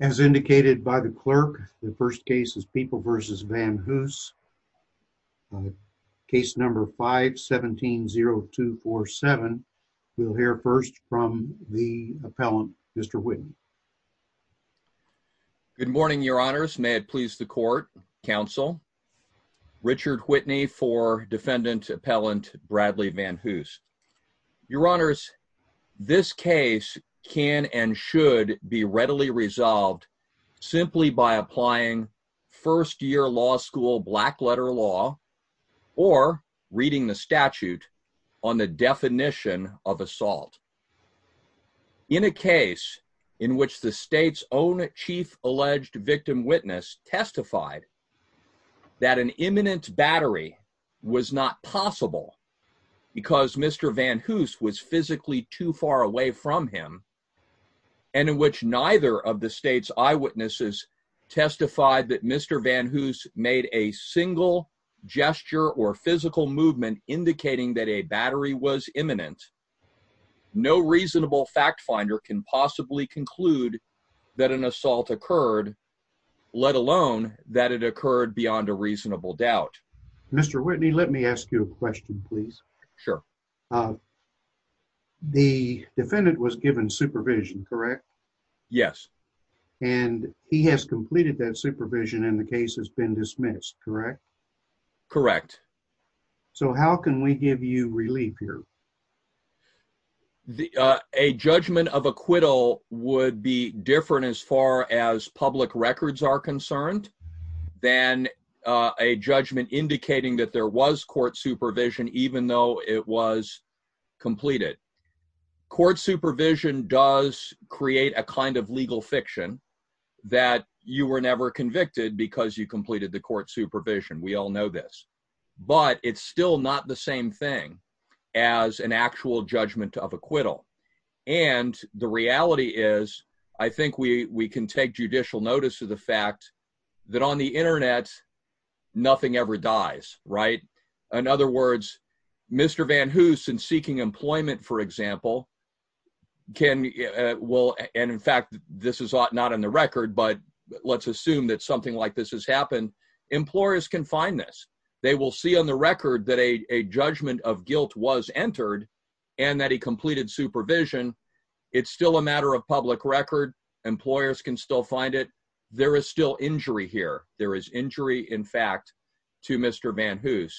As indicated by the clerk, the first case is People v. VanHoose, case number 5-170247. We'll hear first from the appellant, Mr. Whitney. Good morning, your honors. May it please the court, counsel. Richard Whitney for defendant appellant Bradley VanHoose. Your honors, this case can and should be readily resolved simply by applying first-year law school black letter law or reading the statute on the definition of assault. In a case in which the state's own chief alleged victim witness testified that an imminent battery was not possible because Mr. VanHoose was physically too far away from him, and in which neither of the state's eyewitnesses testified that Mr. VanHoose made a single gesture or physical movement indicating that a battery was imminent, no reasonable fact finder can possibly conclude that an assault occurred, let alone that it occurred beyond a reasonable doubt. Mr. Whitney, let me ask you a question, please. Sure. The defendant was given supervision, correct? Yes. And he has completed that supervision and the case has been dismissed, correct? Correct. So how can we give you relief here? A judgment of acquittal would be different as far as public records are concerned than a judgment indicating that there was court supervision, even though it was completed. Court supervision does create a kind of legal fiction that you were never convicted because you completed the court supervision. We all know this. But it's still not the same thing as an actual judgment of acquittal. And the reality is, I think we can take judicial notice of the fact that on the Internet, nothing ever dies, right? In other words, Mr. VanHoose, in seeking employment, for example, and in fact, this is not in the record, but let's assume that something like this has happened, employers can find this. They will see on the record that a judgment of guilt was entered and that he completed supervision. It's still a matter of public record. Employers can still find it. There is still injury here. There is injury, in fact, to Mr. VanHoose.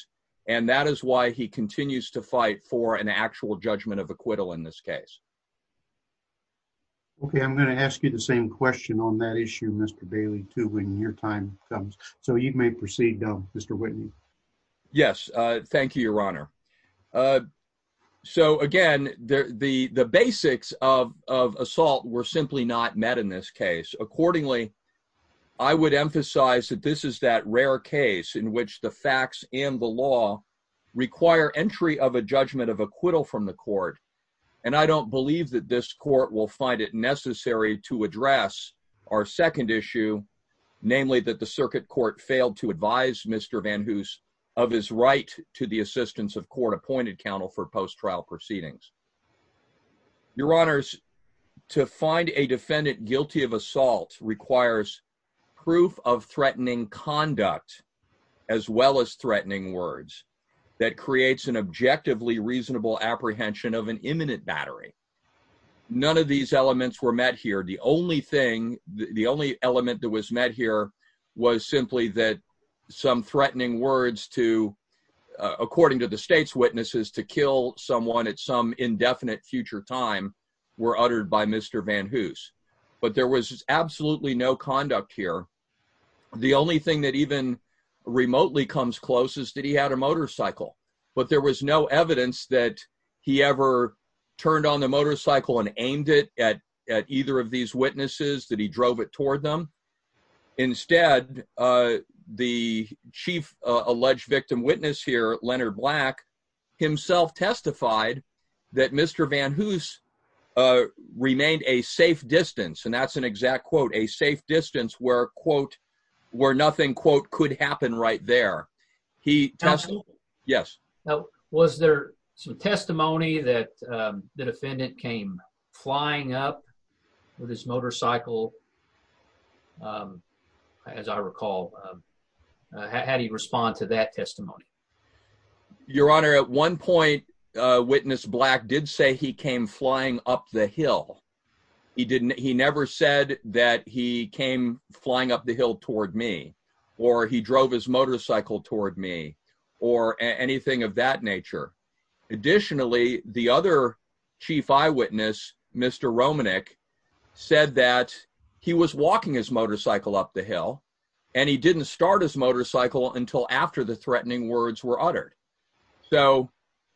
And that is why he continues to fight for an actual judgment of acquittal in this case. Okay. I'm going to ask you the same question on that issue, Mr. Bailey, too, when your time comes. So you may proceed, Mr. Whitney. Yes. Thank you, Your Honor. So, again, the basics of assault were simply not met in this case. Accordingly, I would emphasize that this is that rare case in which the facts and the law require entry of a judgment of acquittal from the court. And I don't believe that this court will find it necessary to address our second issue, namely that the circuit court failed to advise Mr. VanHoose of his right to the assistance of court-appointed counsel for post-trial proceedings. Your Honors, to find a defendant guilty of assault requires proof of threatening conduct as well as threatening words that creates an objectively reasonable apprehension of an imminent battery. None of these elements were met here. The only thing, the only element that was met here was simply that some threatening words to, according to the state's witnesses, to kill someone at some indefinite future time were uttered by Mr. VanHoose. But there was absolutely no conduct here. The only thing that even remotely comes close is that he had a motorcycle. But there was no evidence that he ever turned on the motorcycle and aimed it at either of these witnesses, that he drove it toward them. Instead, the chief alleged victim witness here, Leonard Black, himself testified that Mr. VanHoose remained a safe distance, and that's an exact quote, a safe distance where, quote, where nothing, quote, could happen right there. Was there some testimony that the defendant came flying up with his motorcycle? As I recall, how do you respond to that testimony? Your Honor, at one point, witness Black did say he came flying up the hill. He never said that he came flying up the hill toward me, or he drove his motorcycle toward me, or anything of that nature. Additionally, the other chief eyewitness, Mr. Romanek, said that he was walking his motorcycle up the hill, and he didn't start his motorcycle until after the threatening words were uttered. So,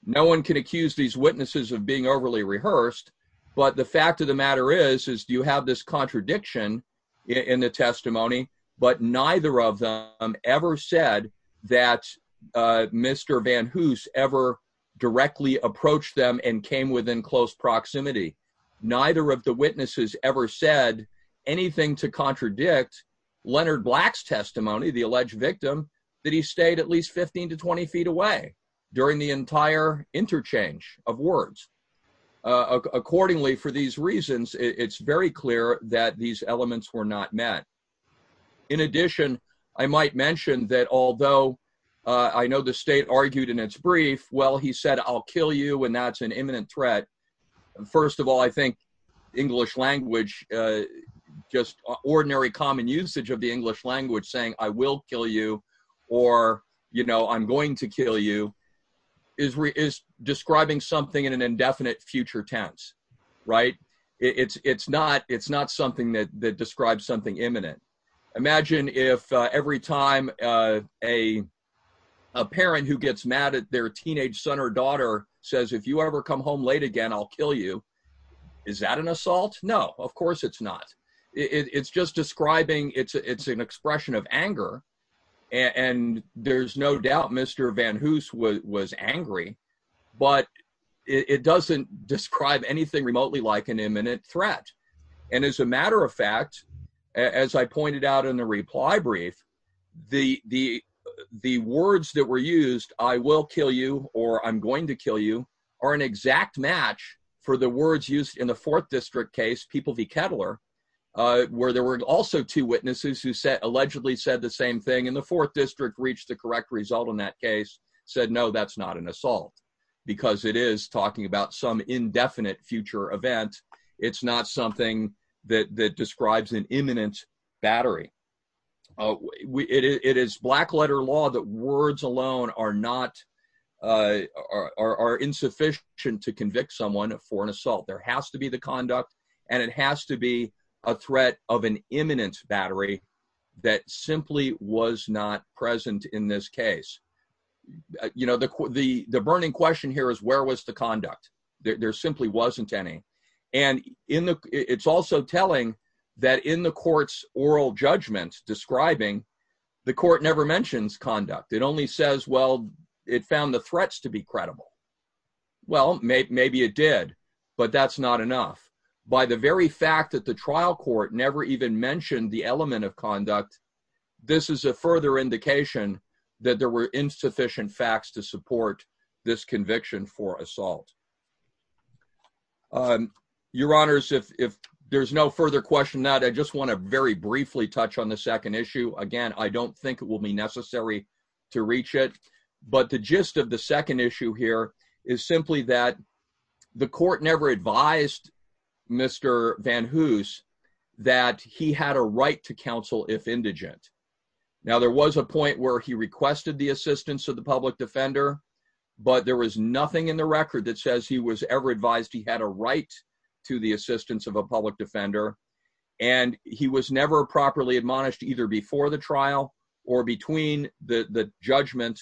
no one can accuse these witnesses of being overly rehearsed, but the fact of the matter is, is you have this contradiction in the testimony, but neither of them ever said that Mr. VanHoose ever directly approached them and came within close proximity. Neither of the witnesses ever said anything to contradict Leonard Black's testimony, the alleged victim, that he stayed at least 15 to 20 feet away during the entire interchange of words. Accordingly, for these reasons, it's very clear that these elements were not met. In addition, I might mention that although I know the state argued in its brief, well, he said, I'll kill you, and that's an imminent threat. First of all, I think English language, just ordinary common usage of the English language saying, I will kill you, or, you know, I'm going to kill you, is describing something in an indefinite future tense. Right? It's not something that describes something imminent. Imagine if every time a parent who gets mad at their teenage son or daughter says, if you ever come home late again, I'll kill you. Is that an assault? No, of course it's not. It's just describing, it's an expression of anger, and there's no doubt Mr. VanHoose was angry, but it doesn't describe anything remotely like an imminent threat. And as a matter of fact, as I pointed out in the reply brief, the words that were used, I will kill you, or I'm going to kill you, are an exact match for the words used in the 4th District case, People v. Kettler, where there were also two witnesses who allegedly said the same thing, and the 4th District reached the correct result in that case, said, no, that's not an assault, because it is talking about some indefinite future event. It's not something that describes an imminent battery. It is black letter law that words alone are insufficient to convict someone for an assault. There has to be the conduct, and it has to be a threat of an imminent battery that simply was not present in this case. You know, the burning question here is where was the conduct? There simply wasn't any. And it's also telling that in the court's oral judgment describing, the court never mentions conduct. It only says, well, it found the threats to be credible. Well, maybe it did, but that's not enough. By the very fact that the trial court never even mentioned the element of conduct, this is a further indication that there were insufficient facts to support this conviction for assault. Your Honors, if there's no further question, I just want to very briefly touch on the second issue. Again, I don't think it will be necessary to reach it. But the gist of the second issue here is simply that the court never advised Mr. Van Hoose that he had a right to counsel if indigent. Now, there was a point where he requested the assistance of the public defender, but there was nothing in the record that says he was ever advised he had a right to the assistance of a public defender. And he was never properly admonished either before the trial or between the judgment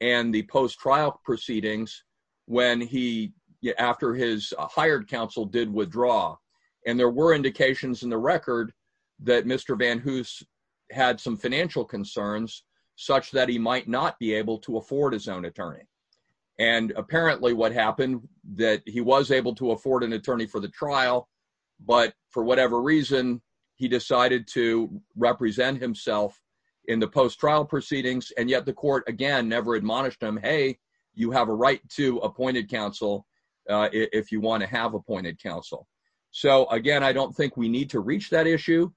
and the post-trial proceedings when he, after his hired counsel, did withdraw. And there were indications in the record that Mr. Van Hoose had some financial concerns such that he might not be able to afford his own attorney. And apparently what happened that he was able to afford an attorney for the trial, but for whatever reason, he decided to represent himself in the post-trial proceedings. And yet the court, again, never admonished him, hey, you have a right to appointed counsel if you want to have appointed counsel. So, again, I don't think we need to reach that issue.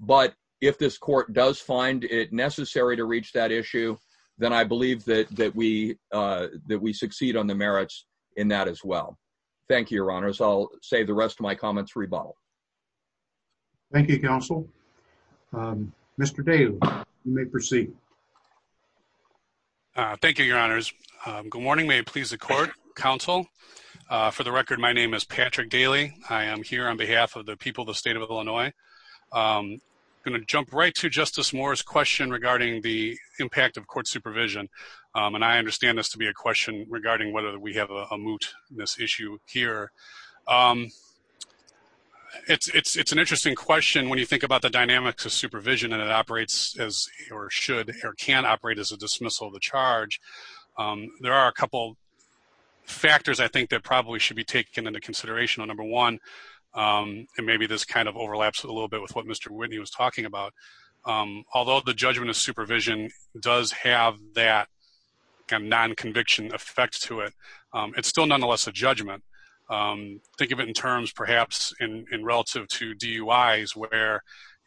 But if this court does find it necessary to reach that issue, then I believe that we succeed on the merits in that as well. Thank you, your honors. I'll save the rest of my comments for rebuttal. Thank you, counsel. Mr. Dale, you may proceed. Thank you, your honors. Good morning. May it please the court, counsel. For the record, my name is Patrick Daly. I am here on behalf of the people of the state of Illinois. I'm going to jump right to Justice Moore's question regarding the impact of court supervision. And I understand this to be a question regarding whether we have a moot in this issue here. It's an interesting question when you think about the dynamics of supervision and it operates as or should or can operate as a dismissal of the charge. There are a couple factors I think that probably should be taken into consideration. Number one, and maybe this kind of overlaps a little bit with what Mr. Whitney was talking about. Although the judgment of supervision does have that kind of non-conviction effect to it, it's still nonetheless a judgment. Think of it in terms perhaps in relative to DUIs where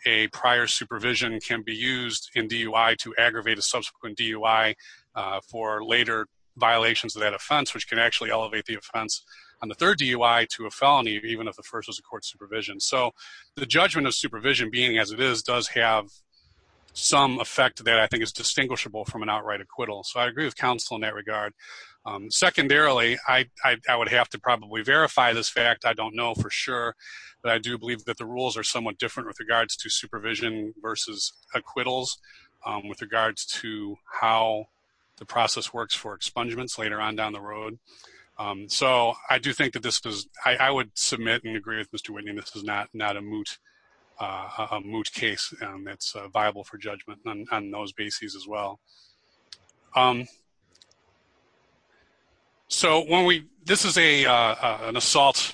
a prior supervision can be used in DUI to aggravate a subsequent DUI for later violations of that offense, which can actually elevate the offense on the third DUI to a felony even if the first was a court supervision. So the judgment of supervision being as it is does have some effect that I think is distinguishable from an outright acquittal. So I agree with counsel in that regard. Secondarily, I would have to probably verify this fact. I don't know for sure, but I do believe that the rules are somewhat different with regards to supervision versus acquittals with regards to how the process works for expungements later on down the road. So I do think that this is, I would submit and agree with Mr. Whitney, this is not a moot case. It's viable for judgment on those bases as well. So when we, this is an assault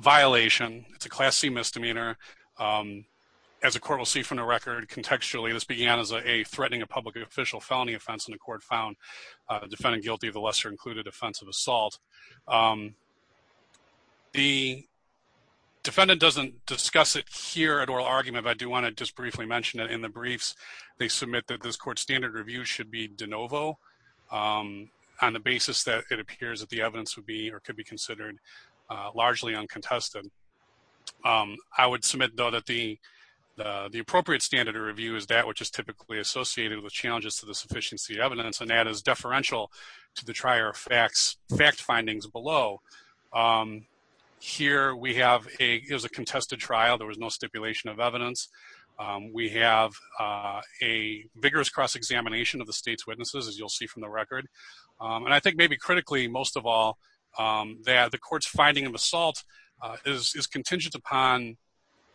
violation. It's a Class C misdemeanor. As a court will see from the record, contextually, this began as a threatening a public official felony offense in the court found defendant guilty of the lesser included offense of assault. The defendant doesn't discuss it here at oral argument, but I do want to just briefly mention that in the briefs, they submit that this court standard review should be de novo on the basis that it appears that the evidence would be or could be considered largely uncontested. I would submit though that the appropriate standard of review is that which is typically associated with challenges to the sufficiency of evidence and that is deferential to the trier of facts, fact findings below. Here we have a, it was a contested trial. There was no stipulation of evidence. We have a vigorous cross examination of the state's witnesses, as you'll see from the record. And I think maybe critically, most of all, that the court's finding of assault is contingent upon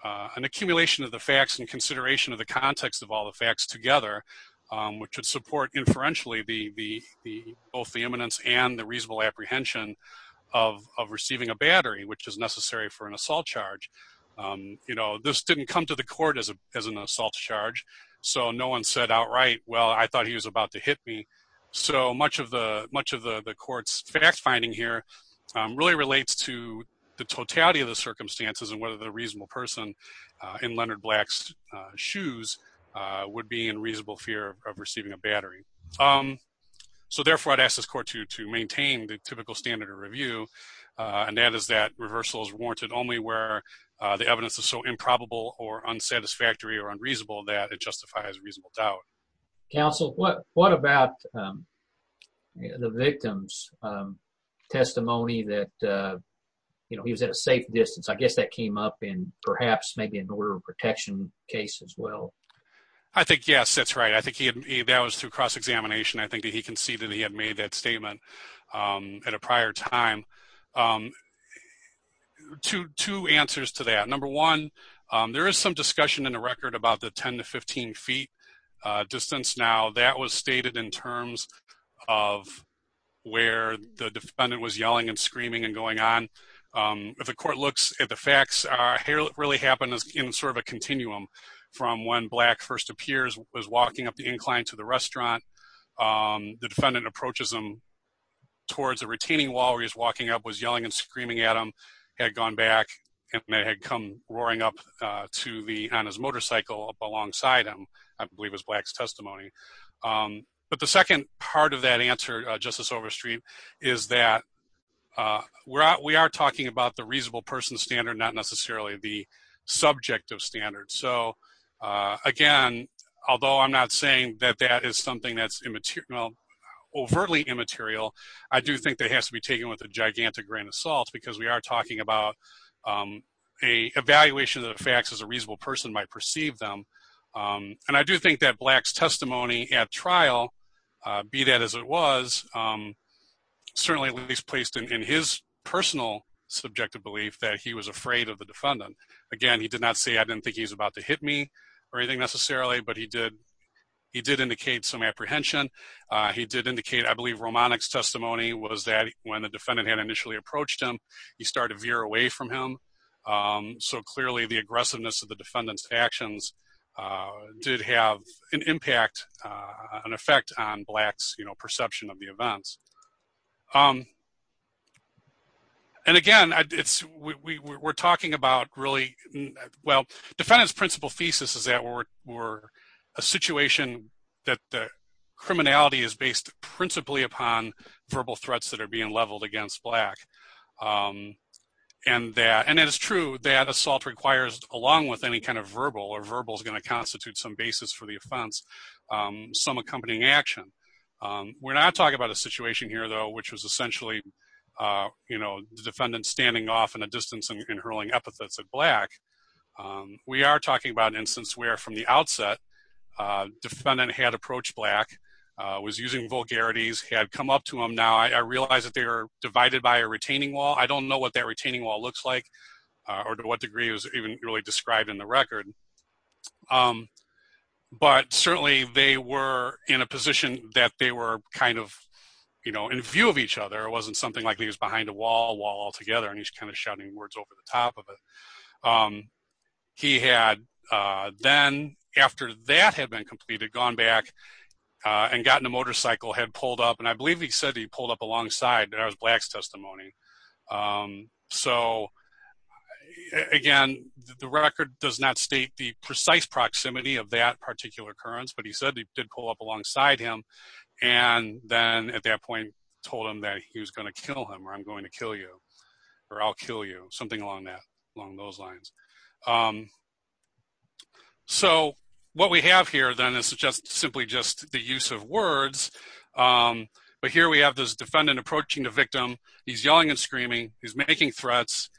an accumulation of the facts and consideration of the context of all the facts together, which would support inferentially the both the eminence and the reasonable apprehension of receiving a battery, which is necessary for an assault charge. You know, this didn't come to the court as an assault charge. So no one said outright, well, I thought he was about to hit me. So much of the much of the court's fact finding here really relates to the totality of the circumstances and whether the reasonable person in Leonard Black's shoes would be in reasonable fear of receiving a battery. So therefore, I'd ask this court to maintain the typical standard of review. And that is that reversal is warranted only where the evidence is so improbable or unsatisfactory or unreasonable that it justifies reasonable doubt. Counsel, what what about the victim's testimony that he was at a safe distance? I guess that came up in perhaps maybe an order of protection case as well. I think, yes, that's right. I think he that was through cross-examination. I think he conceded he had made that statement at a prior time to two answers to that. Number one, there is some discussion in the record about the 10 to 15 feet distance. Now, that was stated in terms of where the defendant was yelling and screaming and going on. If the court looks at the facts here, it really happened in sort of a continuum from when Black first appears, was walking up the incline to the restaurant. The defendant approaches them towards a retaining wall. He's walking up, was yelling and screaming at him, had gone back and had come roaring up to the on his motorcycle up alongside him. I believe it's Black's testimony. But the second part of that answer, Justice Overstreet, is that we are talking about the reasonable person standard, not necessarily the subjective standard. So, again, although I'm not saying that that is something that's immaterial, overtly immaterial, I do think that has to be taken with a gigantic grain of salt because we are talking about a evaluation of the facts as a reasonable person might perceive them. And I do think that Black's testimony at trial, be that as it was, certainly at least placed in his personal subjective belief that he was afraid of the defendant. Again, he did not say I didn't think he's about to hit me or anything necessarily, but he did. He did indicate some apprehension. He did indicate, I believe, Romanek's testimony was that when the defendant had initially approached him, he started veer away from him. So, clearly, the aggressiveness of the defendant's actions did have an impact, an effect on Black's perception of the events. And, again, we're talking about really, well, defendant's principal thesis is that we're a situation that the criminality is based principally upon verbal threats that are being leveled against Black. And it is true that assault requires, along with any kind of verbal or verbal is going to constitute some basis for the offense, some accompanying action. We're not talking about a situation here, though, which was essentially, you know, the defendant standing off in a distance and hurling epithets at Black. We are talking about an instance where, from the outset, defendant had approached Black, was using vulgarities, had come up to him. Now, I realize that they are divided by a retaining wall. I don't know what that retaining wall looks like or to what degree it was even really described in the record. But, certainly, they were in a position that they were kind of, you know, in view of each other. It wasn't something like he was behind a wall altogether and he's kind of shouting words over the top of it. He had then, after that had been completed, gone back and gotten a motorcycle, had pulled up. And I believe he said he pulled up alongside. That was Black's testimony. So, again, the record does not state the precise proximity of that particular occurrence. But he said he did pull up alongside him and then, at that point, told him that he was going to kill him or I'm going to kill you or I'll kill you, something along those lines. So, what we have here, then, is just simply just the use of words. But here we have this defendant approaching the victim. He's yelling and screaming. He's making threats.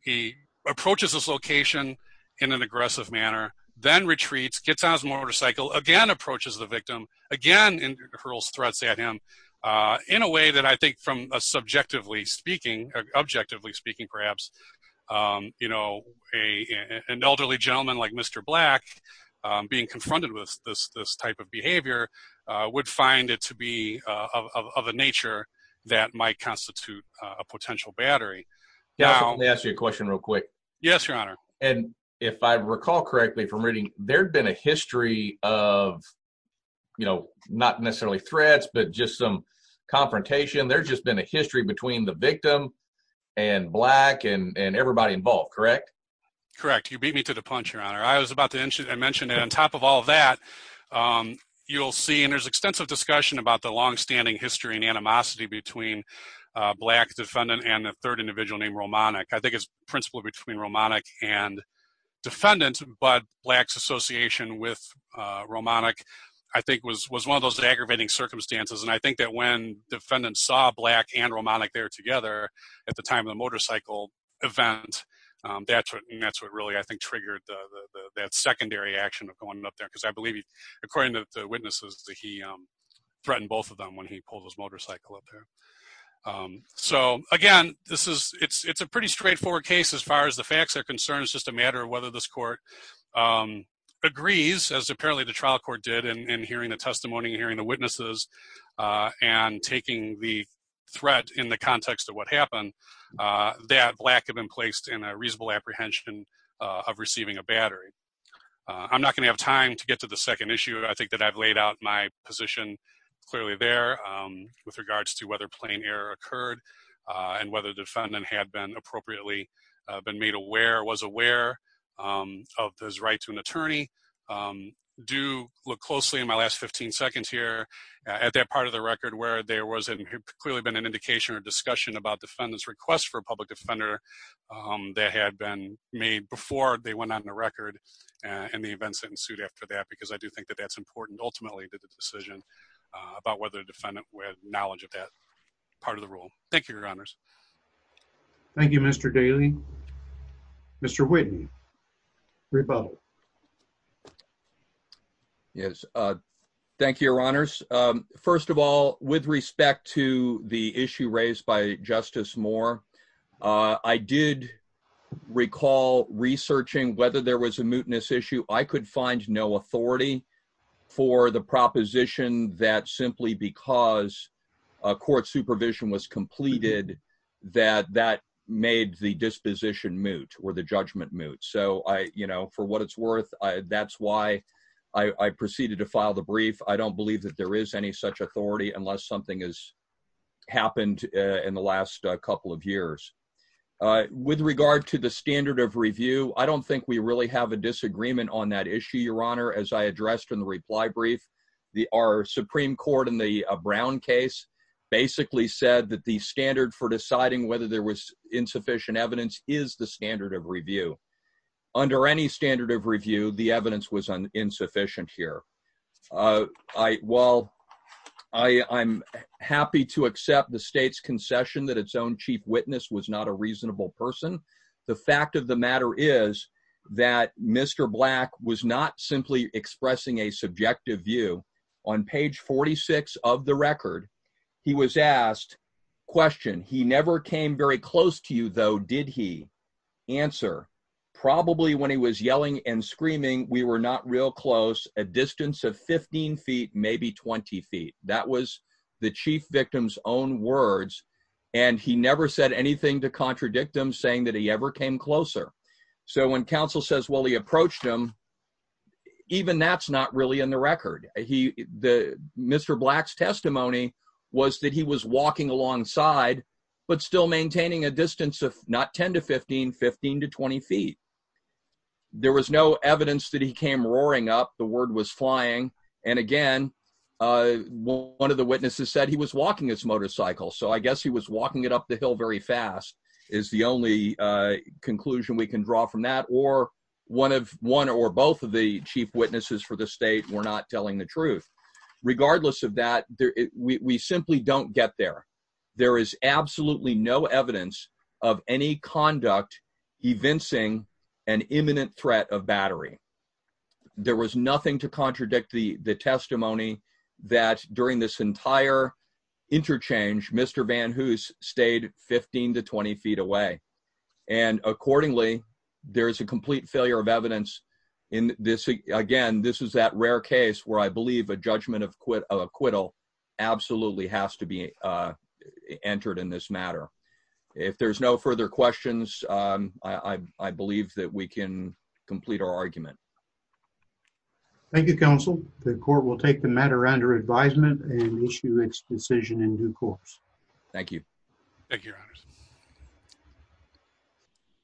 He approaches this location in an aggressive manner, then retreats, gets on his motorcycle, again approaches the victim, again hurls threats at him. In a way that I think, from a subjectively speaking, objectively speaking, perhaps, you know, an elderly gentleman like Mr. Black being confronted with this type of behavior would find it to be of a nature that might constitute a potential battery. Let me ask you a question real quick. Yes, Your Honor. And if I recall correctly from reading, there'd been a history of, you know, not necessarily threats, but just some confrontation. There's just been a history between the victim and Black and everybody involved, correct? Correct. You beat me to the punch, Your Honor. I was about to mention that on top of all that, you'll see, and there's extensive discussion about the longstanding history and animosity between Black defendant and a third individual named Romanik. I think it's a principle between Romanik and defendant, but Black's association with Romanik, I think, was one of those aggravating circumstances. And I think that when defendants saw Black and Romanik there together at the time of the motorcycle event, that's what really, I think, triggered that secondary action of going up there. Because I believe, according to the witnesses, that he threatened both of them when he pulled his motorcycle up there. So, again, this is, it's a pretty straightforward case as far as the facts are concerned. It's just a matter of whether this court agrees, as apparently the trial court did in hearing the testimony and hearing the witnesses and taking the threat in the context of what happened, that Black had been placed in a reasonable apprehension of receiving a battery. I'm not going to have time to get to the second issue. I think that I've laid out my position clearly there with regards to whether plain error occurred and whether defendant had been appropriately been made aware, was aware of his right to an attorney. I do look closely in my last 15 seconds here at that part of the record where there was clearly been an indication or discussion about defendant's request for a public offender that had been made before they went on the record and the events ensued after that. Because I do think that that's important, ultimately, to the decision about whether the defendant had knowledge of that part of the rule. Thank you, Your Honors. Thank you, Mr. Daly. Mr. Whitten, rebuttal. Yes. First of all, with respect to the issue raised by Justice Moore, I did recall researching whether there was a mootness issue. I could find no authority for the proposition that simply because a court supervision was completed, that that made the disposition moot or the judgment moot. So for what it's worth, that's why I proceeded to file the brief. I don't believe that there is any such authority unless something has happened in the last couple of years. With regard to the standard of review, I don't think we really have a disagreement on that issue, Your Honor. As I addressed in the reply brief, our Supreme Court in the Brown case basically said that the standard for deciding whether there was insufficient evidence is the standard of review. Under any standard of review, the evidence was insufficient here. While I'm happy to accept the State's concession that its own chief witness was not a reasonable person, the fact of the matter is that Mr. Black was not simply expressing a subjective view. On page 46 of the record, he was asked, question, he never came very close to you, though, did he? Answer, probably when he was yelling and screaming, we were not real close, a distance of 15 feet, maybe 20 feet. That was the chief victim's own words, and he never said anything to contradict him, saying that he ever came closer. So when counsel says, well, he approached him, even that's not really in the record. Mr. Black's testimony was that he was walking alongside, but still maintaining a distance of not 10 to 15, 15 to 20 feet. There was no evidence that he came roaring up, the word was flying, and again, one of the witnesses said he was walking his motorcycle. So I guess he was walking it up the hill very fast, is the only conclusion we can draw from that, or one or both of the chief witnesses for the State were not telling the truth. Regardless of that, we simply don't get there. There is absolutely no evidence of any conduct evincing an imminent threat of battery. There was nothing to contradict the testimony that during this entire interchange, Mr. Van Hoose stayed 15 to 20 feet away. And accordingly, there is a complete failure of evidence in this, again, this is that rare case where I believe a judgment of acquittal absolutely has to be entered in this matter. If there's no further questions, I believe that we can complete our argument. Thank you, counsel. The court will take the matter under advisement and issue its decision in due course. Thank you. Thank you, your honors.